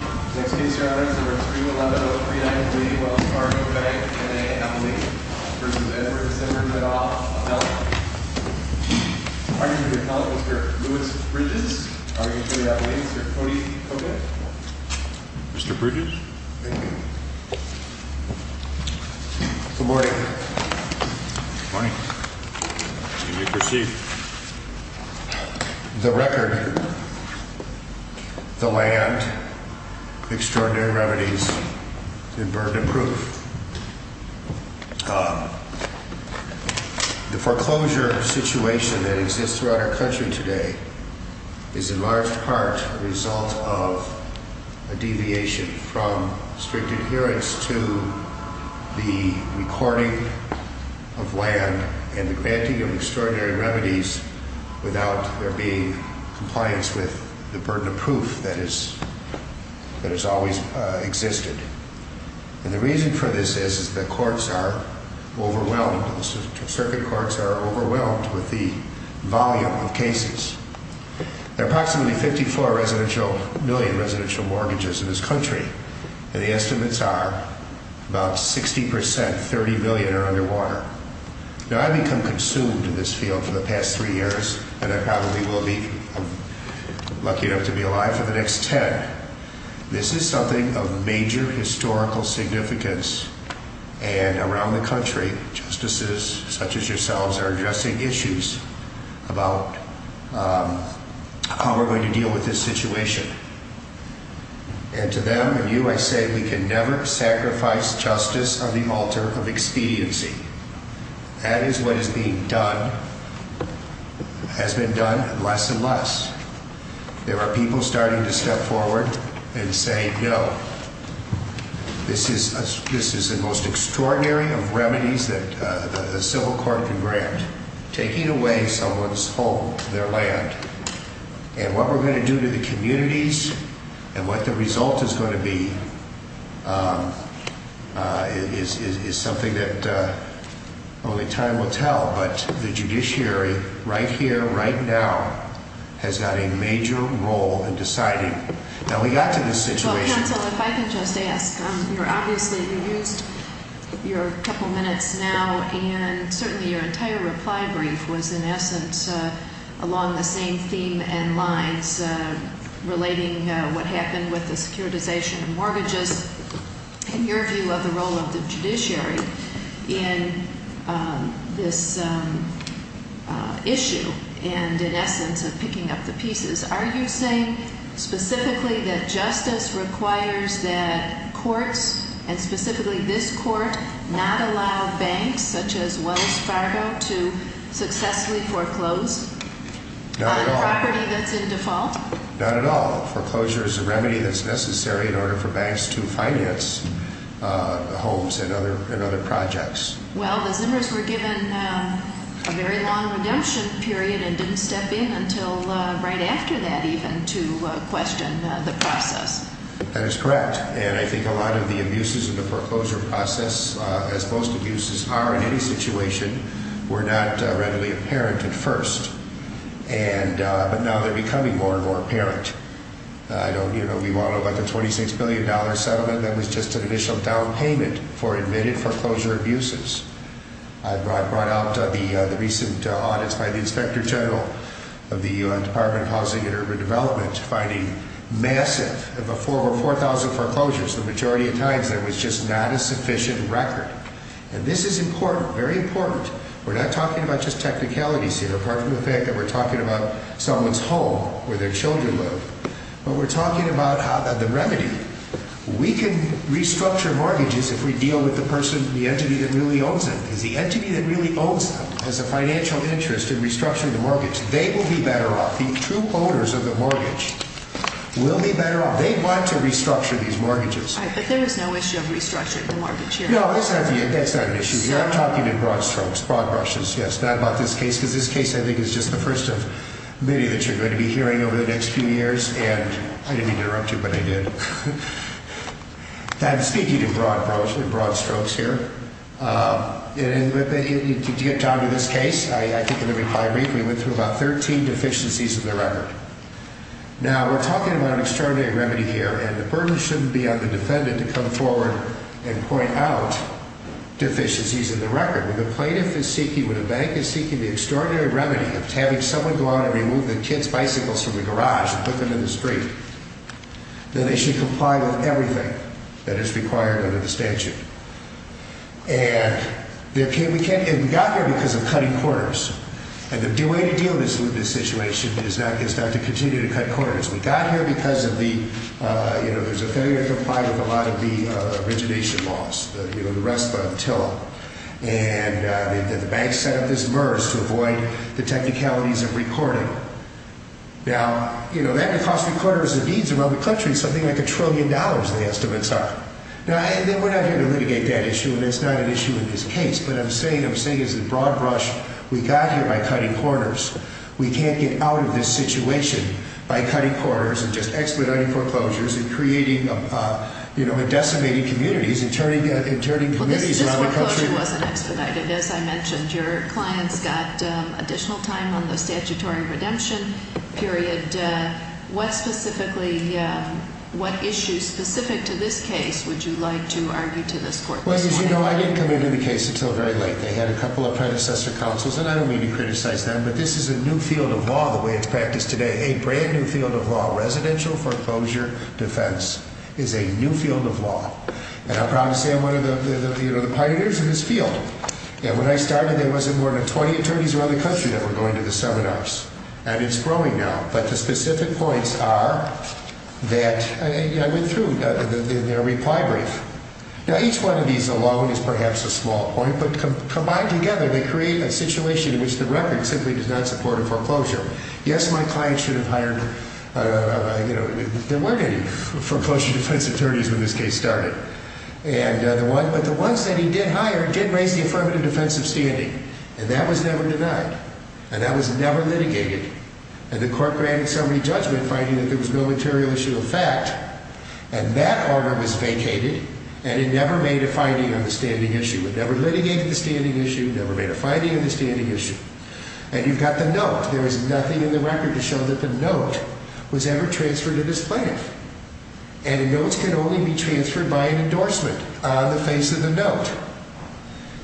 Next case your honor is number 311-0393 Wells Fargo Bank, N.A. Abilene v. Zimmers, Middletown, Alabama. Arguing for the appellate, Mr. Louis Bridges. Arguing for the Abilene, Mr. Cody Cogut. Mr. Bridges? Thank you. Good morning. Good morning. You may proceed. The record, the land, extraordinary remedies, and burden of proof. The foreclosure situation that exists throughout our country today is in large part a result of a deviation from strict adherence to the recording of land and the granting of extraordinary remedies without there being compliance with the burden of proof that has always existed. And the reason for this is that courts are overwhelmed, circuit courts are overwhelmed with the volume of cases. There are approximately 54 million residential mortgages in this country and the estimates are about 60%, 30 million are underwater. Now I've become consumed in this field for the past 3 years and I probably will be lucky enough to be alive for the next 10. This is something of major historical significance and around the country justices such as yourselves are addressing issues about how we're going to deal with this situation. And to them and you I say we can never sacrifice justice on the altar of expediency. That is what is being done, has been done less and less. There are people starting to step forward and say no, this is the most extraordinary of remedies that a civil court can grant. Taking away someone's home, their land, and what we're going to do to the communities and what the result is going to be is something that only time will tell. But the judiciary right here, right now has got a major role in deciding. Now we got to this situation. Counsel, if I can just ask, you're obviously, you used your couple minutes now and certainly your entire reply brief was in essence along the same theme and lines relating what happened with the securitization of mortgages. In your view of the role of the judiciary in this issue and in essence of picking up the pieces, are you saying specifically that justice requires that courts and specifically this court not allow banks such as Wells Fargo to successfully foreclose on property that's in default? Not at all. Foreclosure is a remedy that's necessary in order for banks to finance homes and other projects. Well, the Zimmers were given a very long redemption period and didn't step in until right after that even to question the process. That is correct. And I think a lot of the abuses in the foreclosure process, as most abuses are in any situation, were not readily apparent at first. But now they're becoming more and more apparent. We all know about the $26 billion settlement that was just an initial down payment for admitted foreclosure abuses. I brought out the recent audits by the Inspector General of the U.N. Department of Housing and Urban Development finding massive, over 4,000 foreclosures. The majority of times there was just not a sufficient record. And this is important, very important. We're not talking about just technicalities here, apart from the fact that we're talking about someone's home where their children live. But we're talking about the remedy. We can restructure mortgages if we deal with the person, the entity that really owns them. Because the entity that really owns them has a financial interest in restructuring the mortgage. They will be better off. The true owners of the mortgage will be better off. They want to restructure these mortgages. Right, but there is no issue of restructuring the mortgage here. No, that's not an issue. We are talking in broad strokes, broad brushes, yes, not about this case. Because this case, I think, is just the first of many that you're going to be hearing over the next few years. And I didn't mean to interrupt you, but I did. I'm speaking in broad strokes here. To get down to this case, I think I'm going to reply briefly. We went through about 13 deficiencies in the record. Now, we're talking about an extraordinary remedy here. And the burden shouldn't be on the defendant to come forward and point out deficiencies in the record. When a plaintiff is seeking, when a bank is seeking the extraordinary remedy of having someone go out and remove the kids' bicycles from the garage and put them in the street, then they should comply with everything that is required under the statute. And we got here because of cutting corners. And the way to deal with this situation is not to continue to cut corners. We got here because of the, you know, there's a failure to comply with a lot of the origination laws. You know, the rest of the TILA. And the banks set up this MERS to avoid the technicalities of recording. Now, you know, that could cost recorders and deeds around the country something like a trillion dollars, the estimates are. Now, we're not here to litigate that issue, and it's not an issue in this case. What I'm saying is the broad brush we got here by cutting corners. We can't get out of this situation by cutting corners and just expediting foreclosures and creating, you know, and decimating communities and turning communities around the country. Well, this foreclosure wasn't expedited, as I mentioned. Your clients got additional time on the statutory redemption period. What specifically, what issues specific to this case would you like to argue to this court? Well, as you know, I didn't come into the case until very late. They had a couple of predecessor counsels, and I don't mean to criticize them, but this is a new field of law, the way it's practiced today, a brand-new field of law, residential foreclosure defense is a new field of law. And I'm proud to say I'm one of the pioneers in this field. When I started, there wasn't more than 20 attorneys around the country that were going to the seminars, and it's growing now. But the specific points are that I went through in their reply brief. Now, each one of these alone is perhaps a small point, but combined together, they create a situation in which the record simply does not support a foreclosure. Yes, my client should have hired, you know, there weren't any foreclosure defense attorneys when this case started, but the ones that he did hire did raise the affirmative defense of standing, and that was never denied, and that was never litigated, and the court granted so many judgment finding that there was no material issue of fact, and that order was vacated, and it never made a finding on the standing issue. It never litigated the standing issue, never made a finding on the standing issue. And you've got the note. There is nothing in the record to show that the note was ever transferred to this plaintiff, and notes can only be transferred by an endorsement on the face of the note.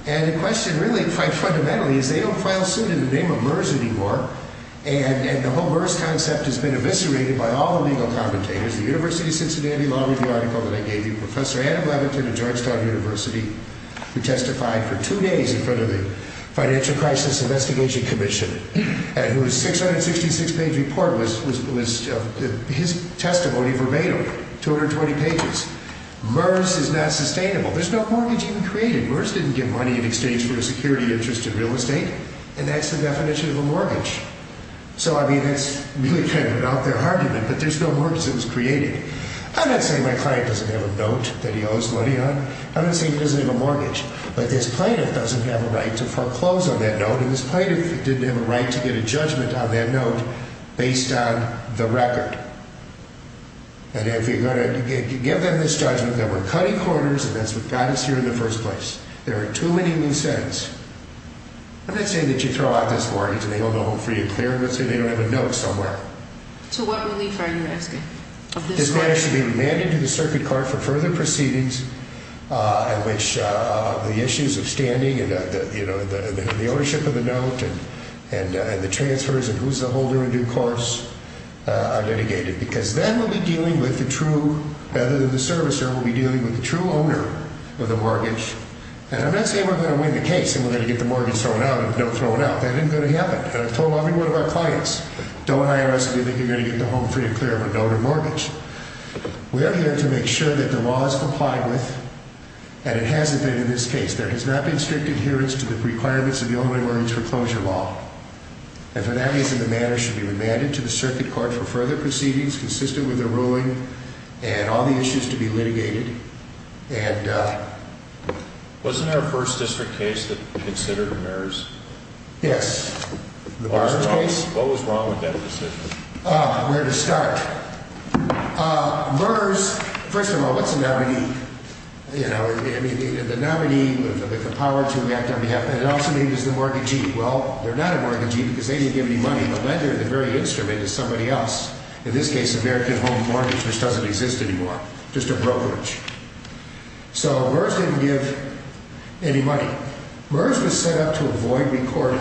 And the question really, quite fundamentally, is they don't file suit in the name of MERS anymore, and the whole MERS concept has been eviscerated by all the legal commentators. The University of Cincinnati Law Review article that I gave you, Professor Adam Levitin of Georgetown University, who testified for two days in front of the Financial Crisis Investigation Commission, and whose 666-page report was his testimony verbatim, 220 pages. MERS is not sustainable. There's no mortgage even created. MERS didn't give money in exchange for a security interest in real estate, and that's the definition of a mortgage. So, I mean, that's really kind of an out-there argument, but there's no mortgage that was created. I'm not saying my client doesn't have a note that he owes money on. I'm not saying he doesn't have a mortgage. But this plaintiff doesn't have a right to foreclose on that note, and this plaintiff didn't have a right to get a judgment on that note based on the record. And if you're going to give them this judgment, then we're cutting corners, and that's what got us here in the first place. There are too many nonsense. I'm not saying that you throw out this mortgage, and they don't know it for you. Clearly, I'm not saying they don't have a note somewhere. To what relief are you asking? This matter should be remanded to the circuit court for further proceedings in which the issues of standing and the ownership of the note and the transfers and who's the holder in due course are litigated, because then we'll be dealing with the true, rather than the servicer, we'll be dealing with the true owner of the mortgage. And I'm not saying we're going to win the case and we're going to get the mortgage thrown out and the note thrown out. That isn't going to happen. And I've told every one of our clients, don't IRS if you think you're going to get the home free and clear of a note or mortgage. We are here to make sure that the law is complied with, and it hasn't been in this case. There has not been strict adherence to the requirements of the Illinois Mortgage Foreclosure Law. And for that reason, the matter should be remanded to the circuit court for further proceedings consistent with the ruling and all the issues to be litigated. Wasn't there a first district case that considered the merits? Yes. What was wrong with that decision? Where to start? MERS, first of all, what's a nominee? You know, the nominee, the power to react on behalf of, and it also means the mortgagee. Well, they're not a mortgagee because they didn't give any money. The lender, the very instrument is somebody else. In this case, American Home Mortgage, which doesn't exist anymore. Just a brokerage. So MERS didn't give any money. MERS was set up to avoid recording,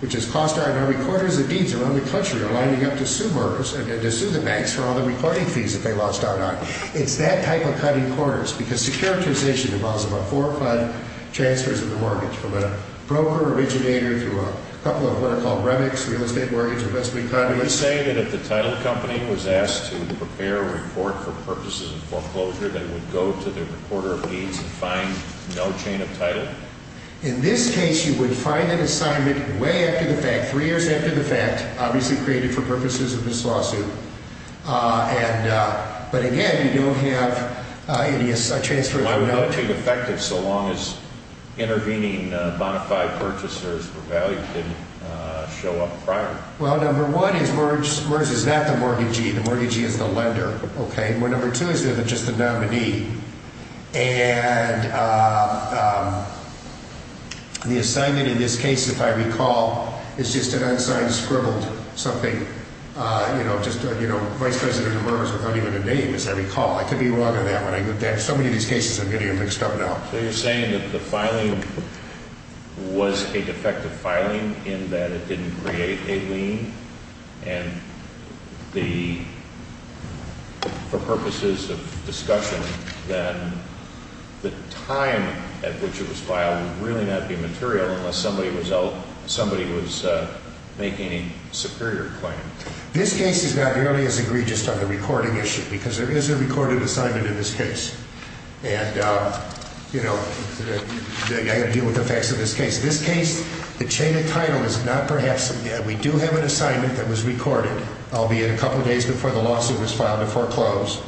which has cost our recorders of deeds around the country are lining up to sue MERS and to sue the banks for all the recording fees that they lost out on. It's that type of cutting corners because securitization involves about four or five transfers of the mortgage from a broker originator to a couple of what are called REMICs, real estate mortgage investment conduits. Are you saying that if the title company was asked to prepare a report for purposes of foreclosure that it would go to the recorder of deeds and find no chain of title? In this case, you would find an assignment way after the fact, three years after the fact, obviously created for purposes of this lawsuit. But again, you don't have any transfer of the money. Why would that be defective so long as intervening bonafide purchasers for value didn't show up prior? Well, number one is MERS is not the mortgagee. The mortgagee is the lender. Okay. Number two is just the nominee. And the assignment in this case, if I recall, is just an unsigned scribbled something, you know, just, you know, Vice President of MERS without even a name, as I recall. I could be wrong on that one. There are so many of these cases I'm getting mixed up now. So you're saying that the filing was a defective filing in that it didn't create a lien and for purposes of discussion, then the time at which it was filed would really not be material unless somebody was making a superior claim. This case is not nearly as egregious on the recording issue because there is a recorded assignment in this case. And, you know, I've got to deal with the facts of this case. This case, the chain of title is not perhaps, we do have an assignment that was recorded, albeit a couple of days before the lawsuit was filed to foreclose.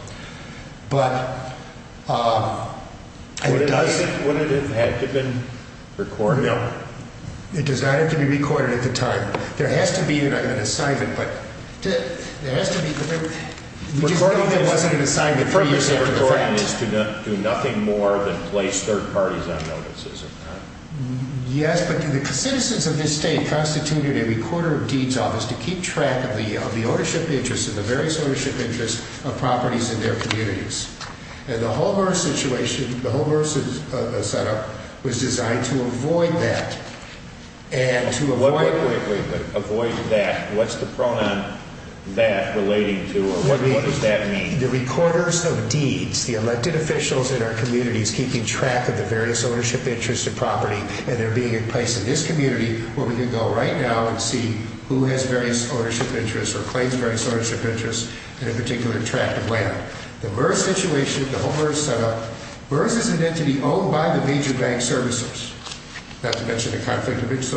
But it doesn't. Would it have had to have been recorded? No. It does not have to be recorded at the time. There has to be an assignment, but there has to be. We just don't think there wasn't an assignment three years after the fact. The purpose of recording is to do nothing more than place third parties on notices. Yes, but the citizens of this state constituted a recorder of deeds office to keep track of the ownership interests and the various ownership interests of properties in their communities. And the whole birth situation, the whole birth setup was designed to avoid that. Wait, wait, wait. Avoid that. What's the pronoun that relating to or what does that mean? The recorders of deeds, the elected officials in our communities, keeping track of the various ownership interests of property and they're being in place in this community where we can go right now and see who has various ownership interests or claims various ownership interests in a particular tract of land. The birth situation, the whole birth setup, births is intended to be owned by the major bank servicers. Not to mention the conflict of interest.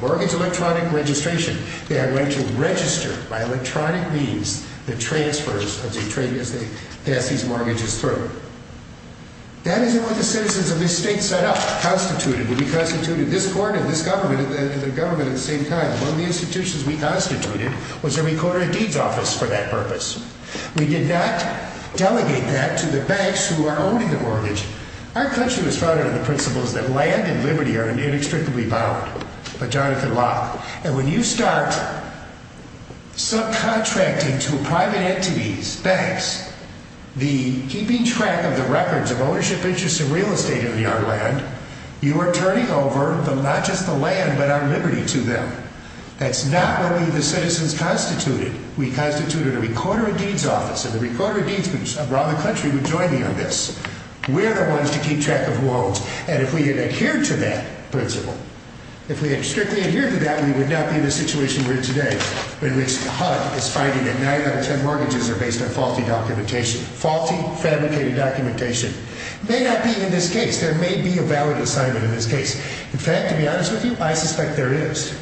Mortgage electronic registration. They have a right to register by electronic means the transfers as they pass these mortgages through. That is what the citizens of this state set up, constituted. We constituted this court and this government and the government at the same time. One of the institutions we constituted was a recorder of deeds office for that purpose. We did not delegate that to the banks who are owning the mortgage. Our country was founded on the principles that land and liberty are inextricably bound by Jonathan Locke. And when you start subcontracting to private entities, banks, the keeping track of the records of ownership interests of real estate in the other land, you are turning over not just the land but our liberty to them. That's not what we, the citizens, constituted. We constituted a recorder of deeds office and the recorder of deeds groups around the country would join me on this. We are the ones to keep track of loans. And if we had adhered to that principle, if we had strictly adhered to that, we would not be in the situation we are in today. In which HUD is finding that 9 out of 10 mortgages are based on faulty documentation. Faulty, fabricated documentation. It may not be in this case. There may be a valid assignment in this case. In fact, to be honest with you, I suspect there is.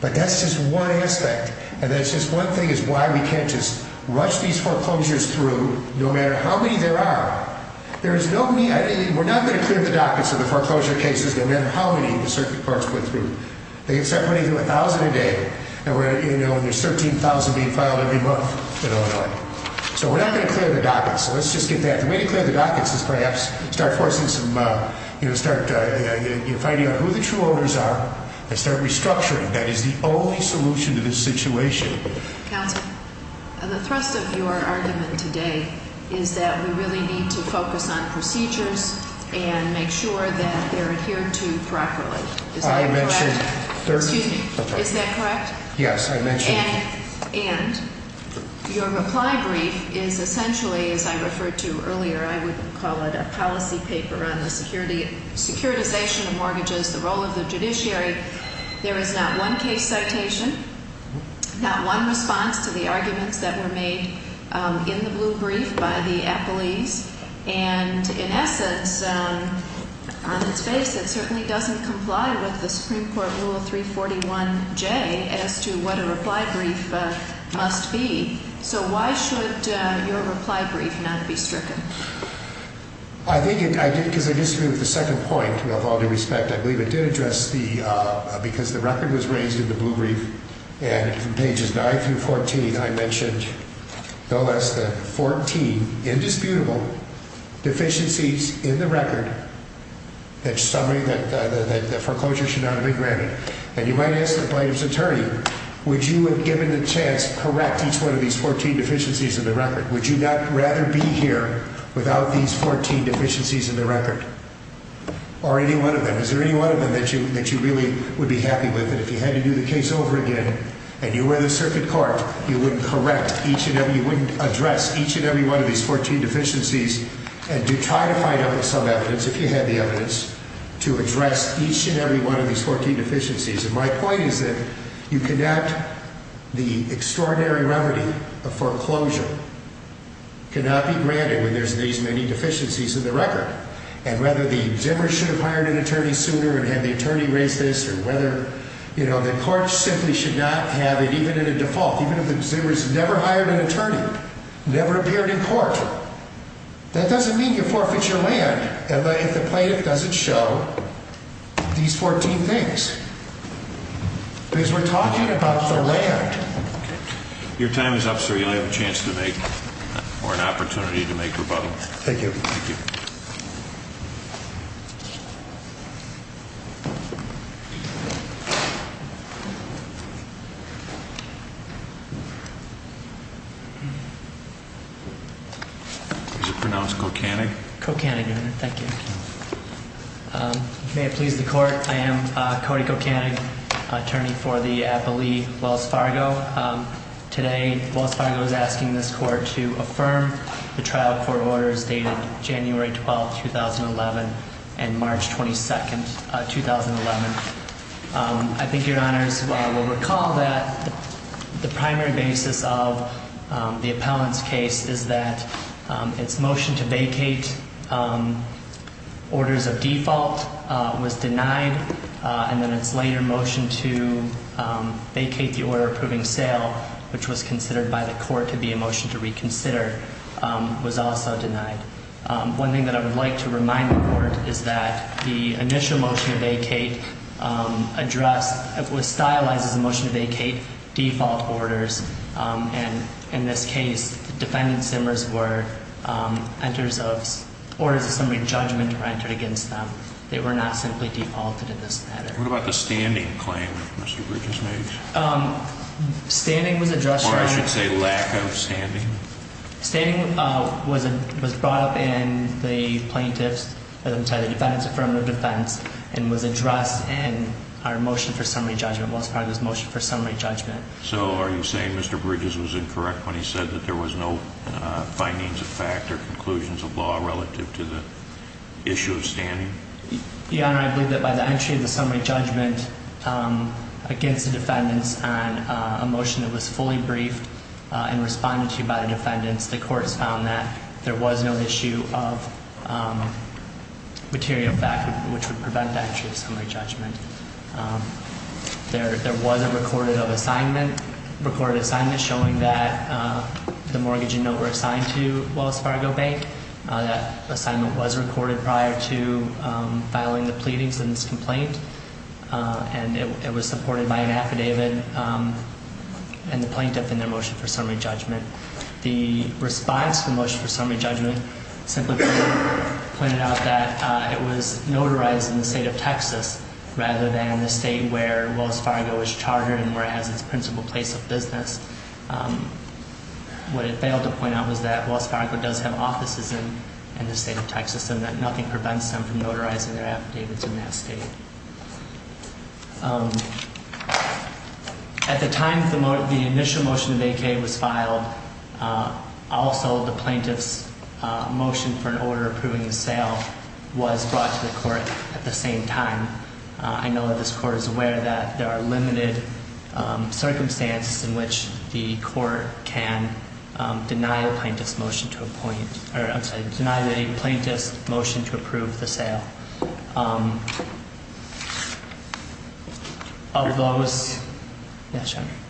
But that's just one aspect. And that's just one thing is why we can't just rush these foreclosures through no matter how many there are. We're not going to clear the dockets of the foreclosure cases no matter how many the circuit courts go through. They can start putting through 1,000 a day and there's 13,000 being filed every month in Illinois. So we're not going to clear the dockets. So let's just get that. The way to clear the dockets is perhaps start forcing some, start finding out who the true owners are and start restructuring. That is the only solution to this situation. Counselor, the thrust of your argument today is that we really need to focus on procedures and make sure that they're adhered to properly. Is that correct? I mentioned 13. Excuse me. Is that correct? Yes, I mentioned. And your reply brief is essentially, as I referred to earlier, I would call it a policy paper on the security, securitization of mortgages, the role of the judiciary. There is not one case citation, not one response to the arguments that were made in the blue brief by the appellees. And in essence, on its face, it certainly doesn't comply with the Supreme Court Rule 341J as to what a reply brief must be. So why should your reply brief not be stricken? I think because I disagree with the second point, with all due respect. I believe it did address the, because the record was raised in the blue brief. And from pages 9 through 14, I mentioned no less than 14 indisputable deficiencies in the record that the foreclosure should not have been granted. And you might ask the plaintiff's attorney, would you have given the chance to correct each one of these 14 deficiencies in the record? Would you not rather be here without these 14 deficiencies in the record? Or any one of them. Is there any one of them that you, that you really would be happy with? And if you had to do the case over again, and you were the circuit court, you wouldn't correct each and every, you wouldn't address each and every one of these 14 deficiencies. And do try to find out some evidence, if you had the evidence, to address each and every one of these 14 deficiencies. And my point is that you cannot, the extraordinary remedy of foreclosure cannot be granted when there's these many deficiencies in the record. And whether the consumer should have hired an attorney sooner and had the attorney raise this, or whether, you know, the court simply should not have it, even in a default. Even if the consumer's never hired an attorney, never appeared in court. That doesn't mean you forfeit your land if the plaintiff doesn't show these 14 things. Because we're talking about the land. Your time is up, sir. You only have a chance to make, or an opportunity to make rebuttal. Thank you. Thank you. Is it pronounced Kocanag? Kocanag, Your Honor. Thank you. May it please the court, I am Cody Kocanag, attorney for the appellee Wells Fargo. Today, Wells Fargo is asking this court to affirm the trial court orders dated January 12th, 2011 and March 22nd, 2011. I think Your Honors will recall that the primary basis of the appellant's case is that its motion to vacate orders of default was denied. And then its later motion to vacate the order approving sale, which was considered by the court to be a motion to reconsider, was also denied. One thing that I would like to remind the court is that the initial motion to vacate addressed, was stylized as a motion to vacate default orders. And in this case, defendant Simmers were, orders of summary judgment were entered against them. They were not simply defaulted in this matter. What about the standing claim that Mr. Bridges made? Standing was addressed. Or I should say lack of standing. Standing was brought up in the plaintiff's, the defendant's affirmative defense and was addressed in our motion for summary judgment, Wells Fargo's motion for summary judgment. So are you saying Mr. Bridges was incorrect when he said that there was no findings of fact or conclusions of law relative to the issue of standing? Your Honor, I believe that by the entry of the summary judgment against the defendants on a motion that was fully briefed and responded to by the defendants, the courts found that there was no issue of material fact which would prevent the entry of summary judgment. There was a recorded assignment, recorded assignment showing that the mortgage and note were assigned to Wells Fargo Bank. That assignment was recorded prior to filing the pleadings in this complaint. And it was supported by an affidavit and the plaintiff in their motion for summary judgment. The response to the motion for summary judgment simply pointed out that it was notarized in the state of Texas rather than the state where Wells Fargo is chartered and where it has its principal place of business. What it failed to point out was that Wells Fargo does have offices in the state of Texas and that nothing prevents them from notarizing their affidavits in that state. At the time the initial motion of AK was filed, also the plaintiff's motion for an order approving the sale was brought to the court at the same time. I know that this court is aware that there are limited circumstances in which the court can deny the plaintiff's motion to appoint, or I'm sorry, deny the plaintiff's motion to approve the sale.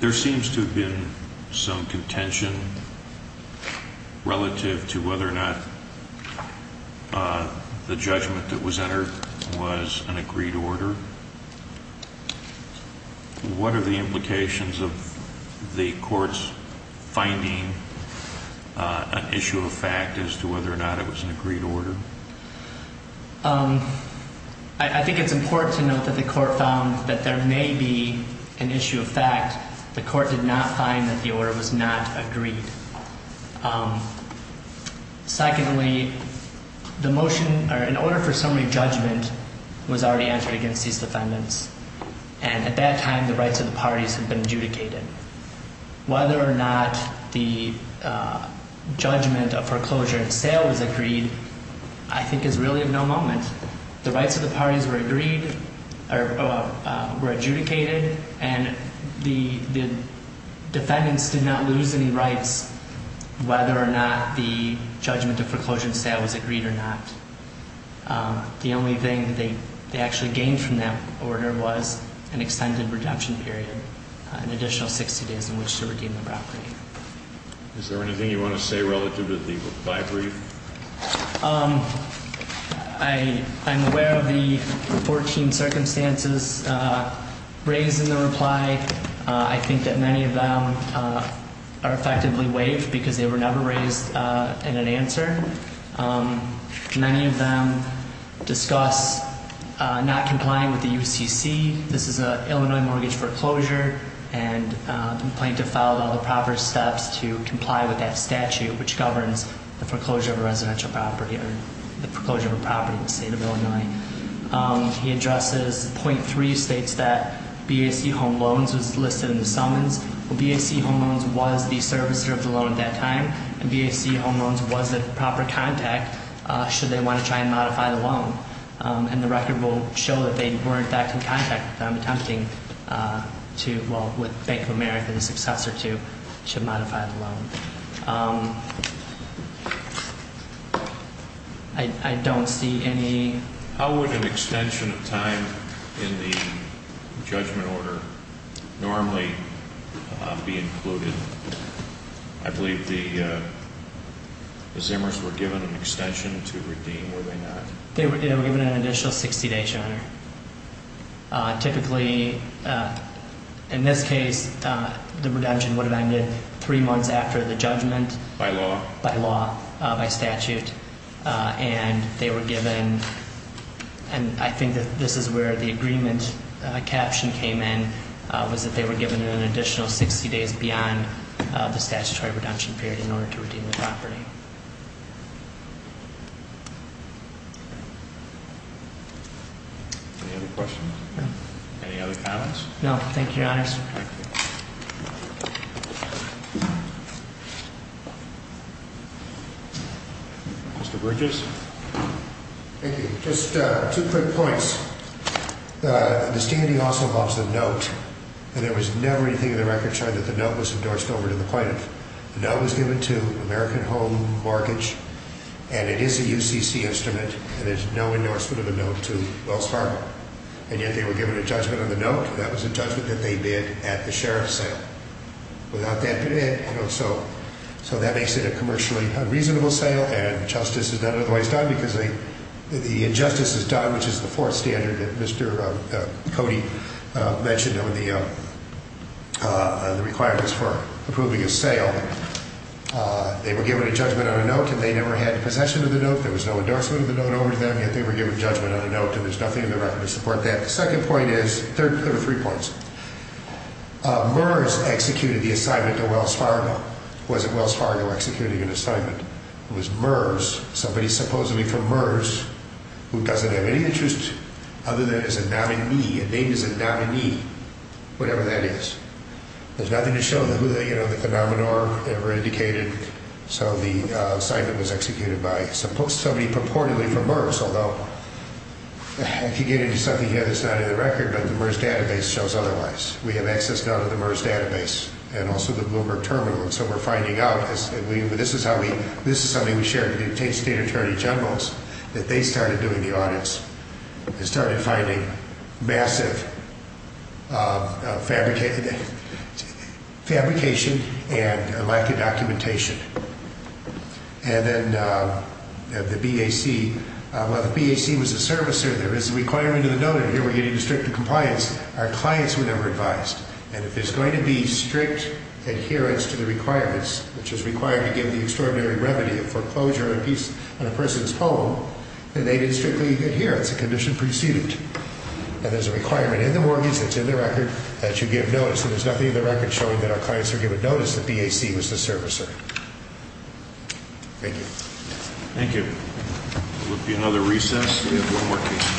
There seems to have been some contention relative to whether or not the judgment that was entered was an agreed order. What are the implications of the court's finding an issue of fact as to whether or not it was an agreed order? I think it's important to note that the court found that there may be an issue of fact. The court did not find that the order was not agreed. Secondly, the motion or an order for summary judgment was already entered against these defendants, and at that time the rights of the parties had been adjudicated. Whether or not the judgment of foreclosure and sale was agreed, I think is really of no moment. The rights of the parties were agreed or were adjudicated, and the defendants did not lose any rights whether or not the judgment of foreclosure and sale was agreed or not. The only thing they actually gained from that order was an extended redemption period, an additional 60 days in which to redeem the property. Is there anything you want to say relative to the by-brief? I'm aware of the 14 circumstances raised in the reply. I think that many of them are effectively waived because they were never raised in an answer. Many of them discuss not complying with the UCC. This is an Illinois mortgage foreclosure, and the plaintiff followed all the proper steps to comply with that statute, which governs the foreclosure of a residential property or the foreclosure of a property in the state of Illinois. He addresses point three states that BAC home loans was listed in the summons. Well, BAC home loans was the servicer of the loan at that time, and BAC home loans was the proper contact should they want to try and modify the loan. And the record will show that they were, in fact, in contact with them attempting to, well, with Bank of America, the successor to, to modify the loan. I don't see any... How would an extension of time in the judgment order normally be included? I believe the Zimmers were given an extension to redeem, were they not? They were given an additional 60 days, Your Honor. Typically, in this case, the redemption would have ended three months after the judgment. By law? By law, by statute, and they were given, and I think that this is where the agreement caption came in, was that they were given an additional 60 days beyond the statutory redemption period in order to redeem the property. Any other questions? No. Any other comments? No, thank you, Your Honor. Mr. Bridges? Thank you. Just two quick points. The standing also involves the note, and there was never anything in the record showing that the note was endorsed over to the plaintiff. The note was given to American Home Mortgage, and it is a UCC instrument, and there's no endorsement of the note to Wells Fargo. And yet they were given a judgment on the note, and that was a judgment that they bid at the sheriff's sale. So that makes it a commercially unreasonable sale, and justice is done otherwise done because the injustice is done, which is the fourth standard that Mr. Cody mentioned on the requirements for approving a sale. They were given a judgment on a note, and they never had possession of the note. There was no endorsement of the note over to them, yet they were given judgment on a note, and there's nothing in the record to support that. The second point is, there are three points. MERS executed the assignment to Wells Fargo. It wasn't Wells Fargo executing an assignment. It was MERS, somebody supposedly from MERS, who doesn't have any interest other than as a nominee. A name is a nominee, whatever that is. There's nothing to show, you know, the denominator ever indicated, so the assignment was executed by somebody purportedly from MERS, although I could get into something here that's not in the record, but the MERS database shows otherwise. We have access now to the MERS database and also the Bloomberg terminal, and so we're finding out, and this is something we shared with the state attorney generals, that they started doing the audits and started finding massive fabrication and a lack of documentation. And then the BAC, well, the BAC was a servicer. There is a requirement in the note, and here we're getting a strict compliance. Our clients were never advised, and if there's going to be strict adherence to the requirements, which is required to give the extraordinary remedy of foreclosure on a person's home, then they didn't strictly adhere. It's a condition preceded, and there's a requirement in the mortgage that's in the record that you give notice, and there's nothing in the record showing that our clients are given notice that BAC was the servicer. Thank you. Thank you. There will be another recess. We have one more case.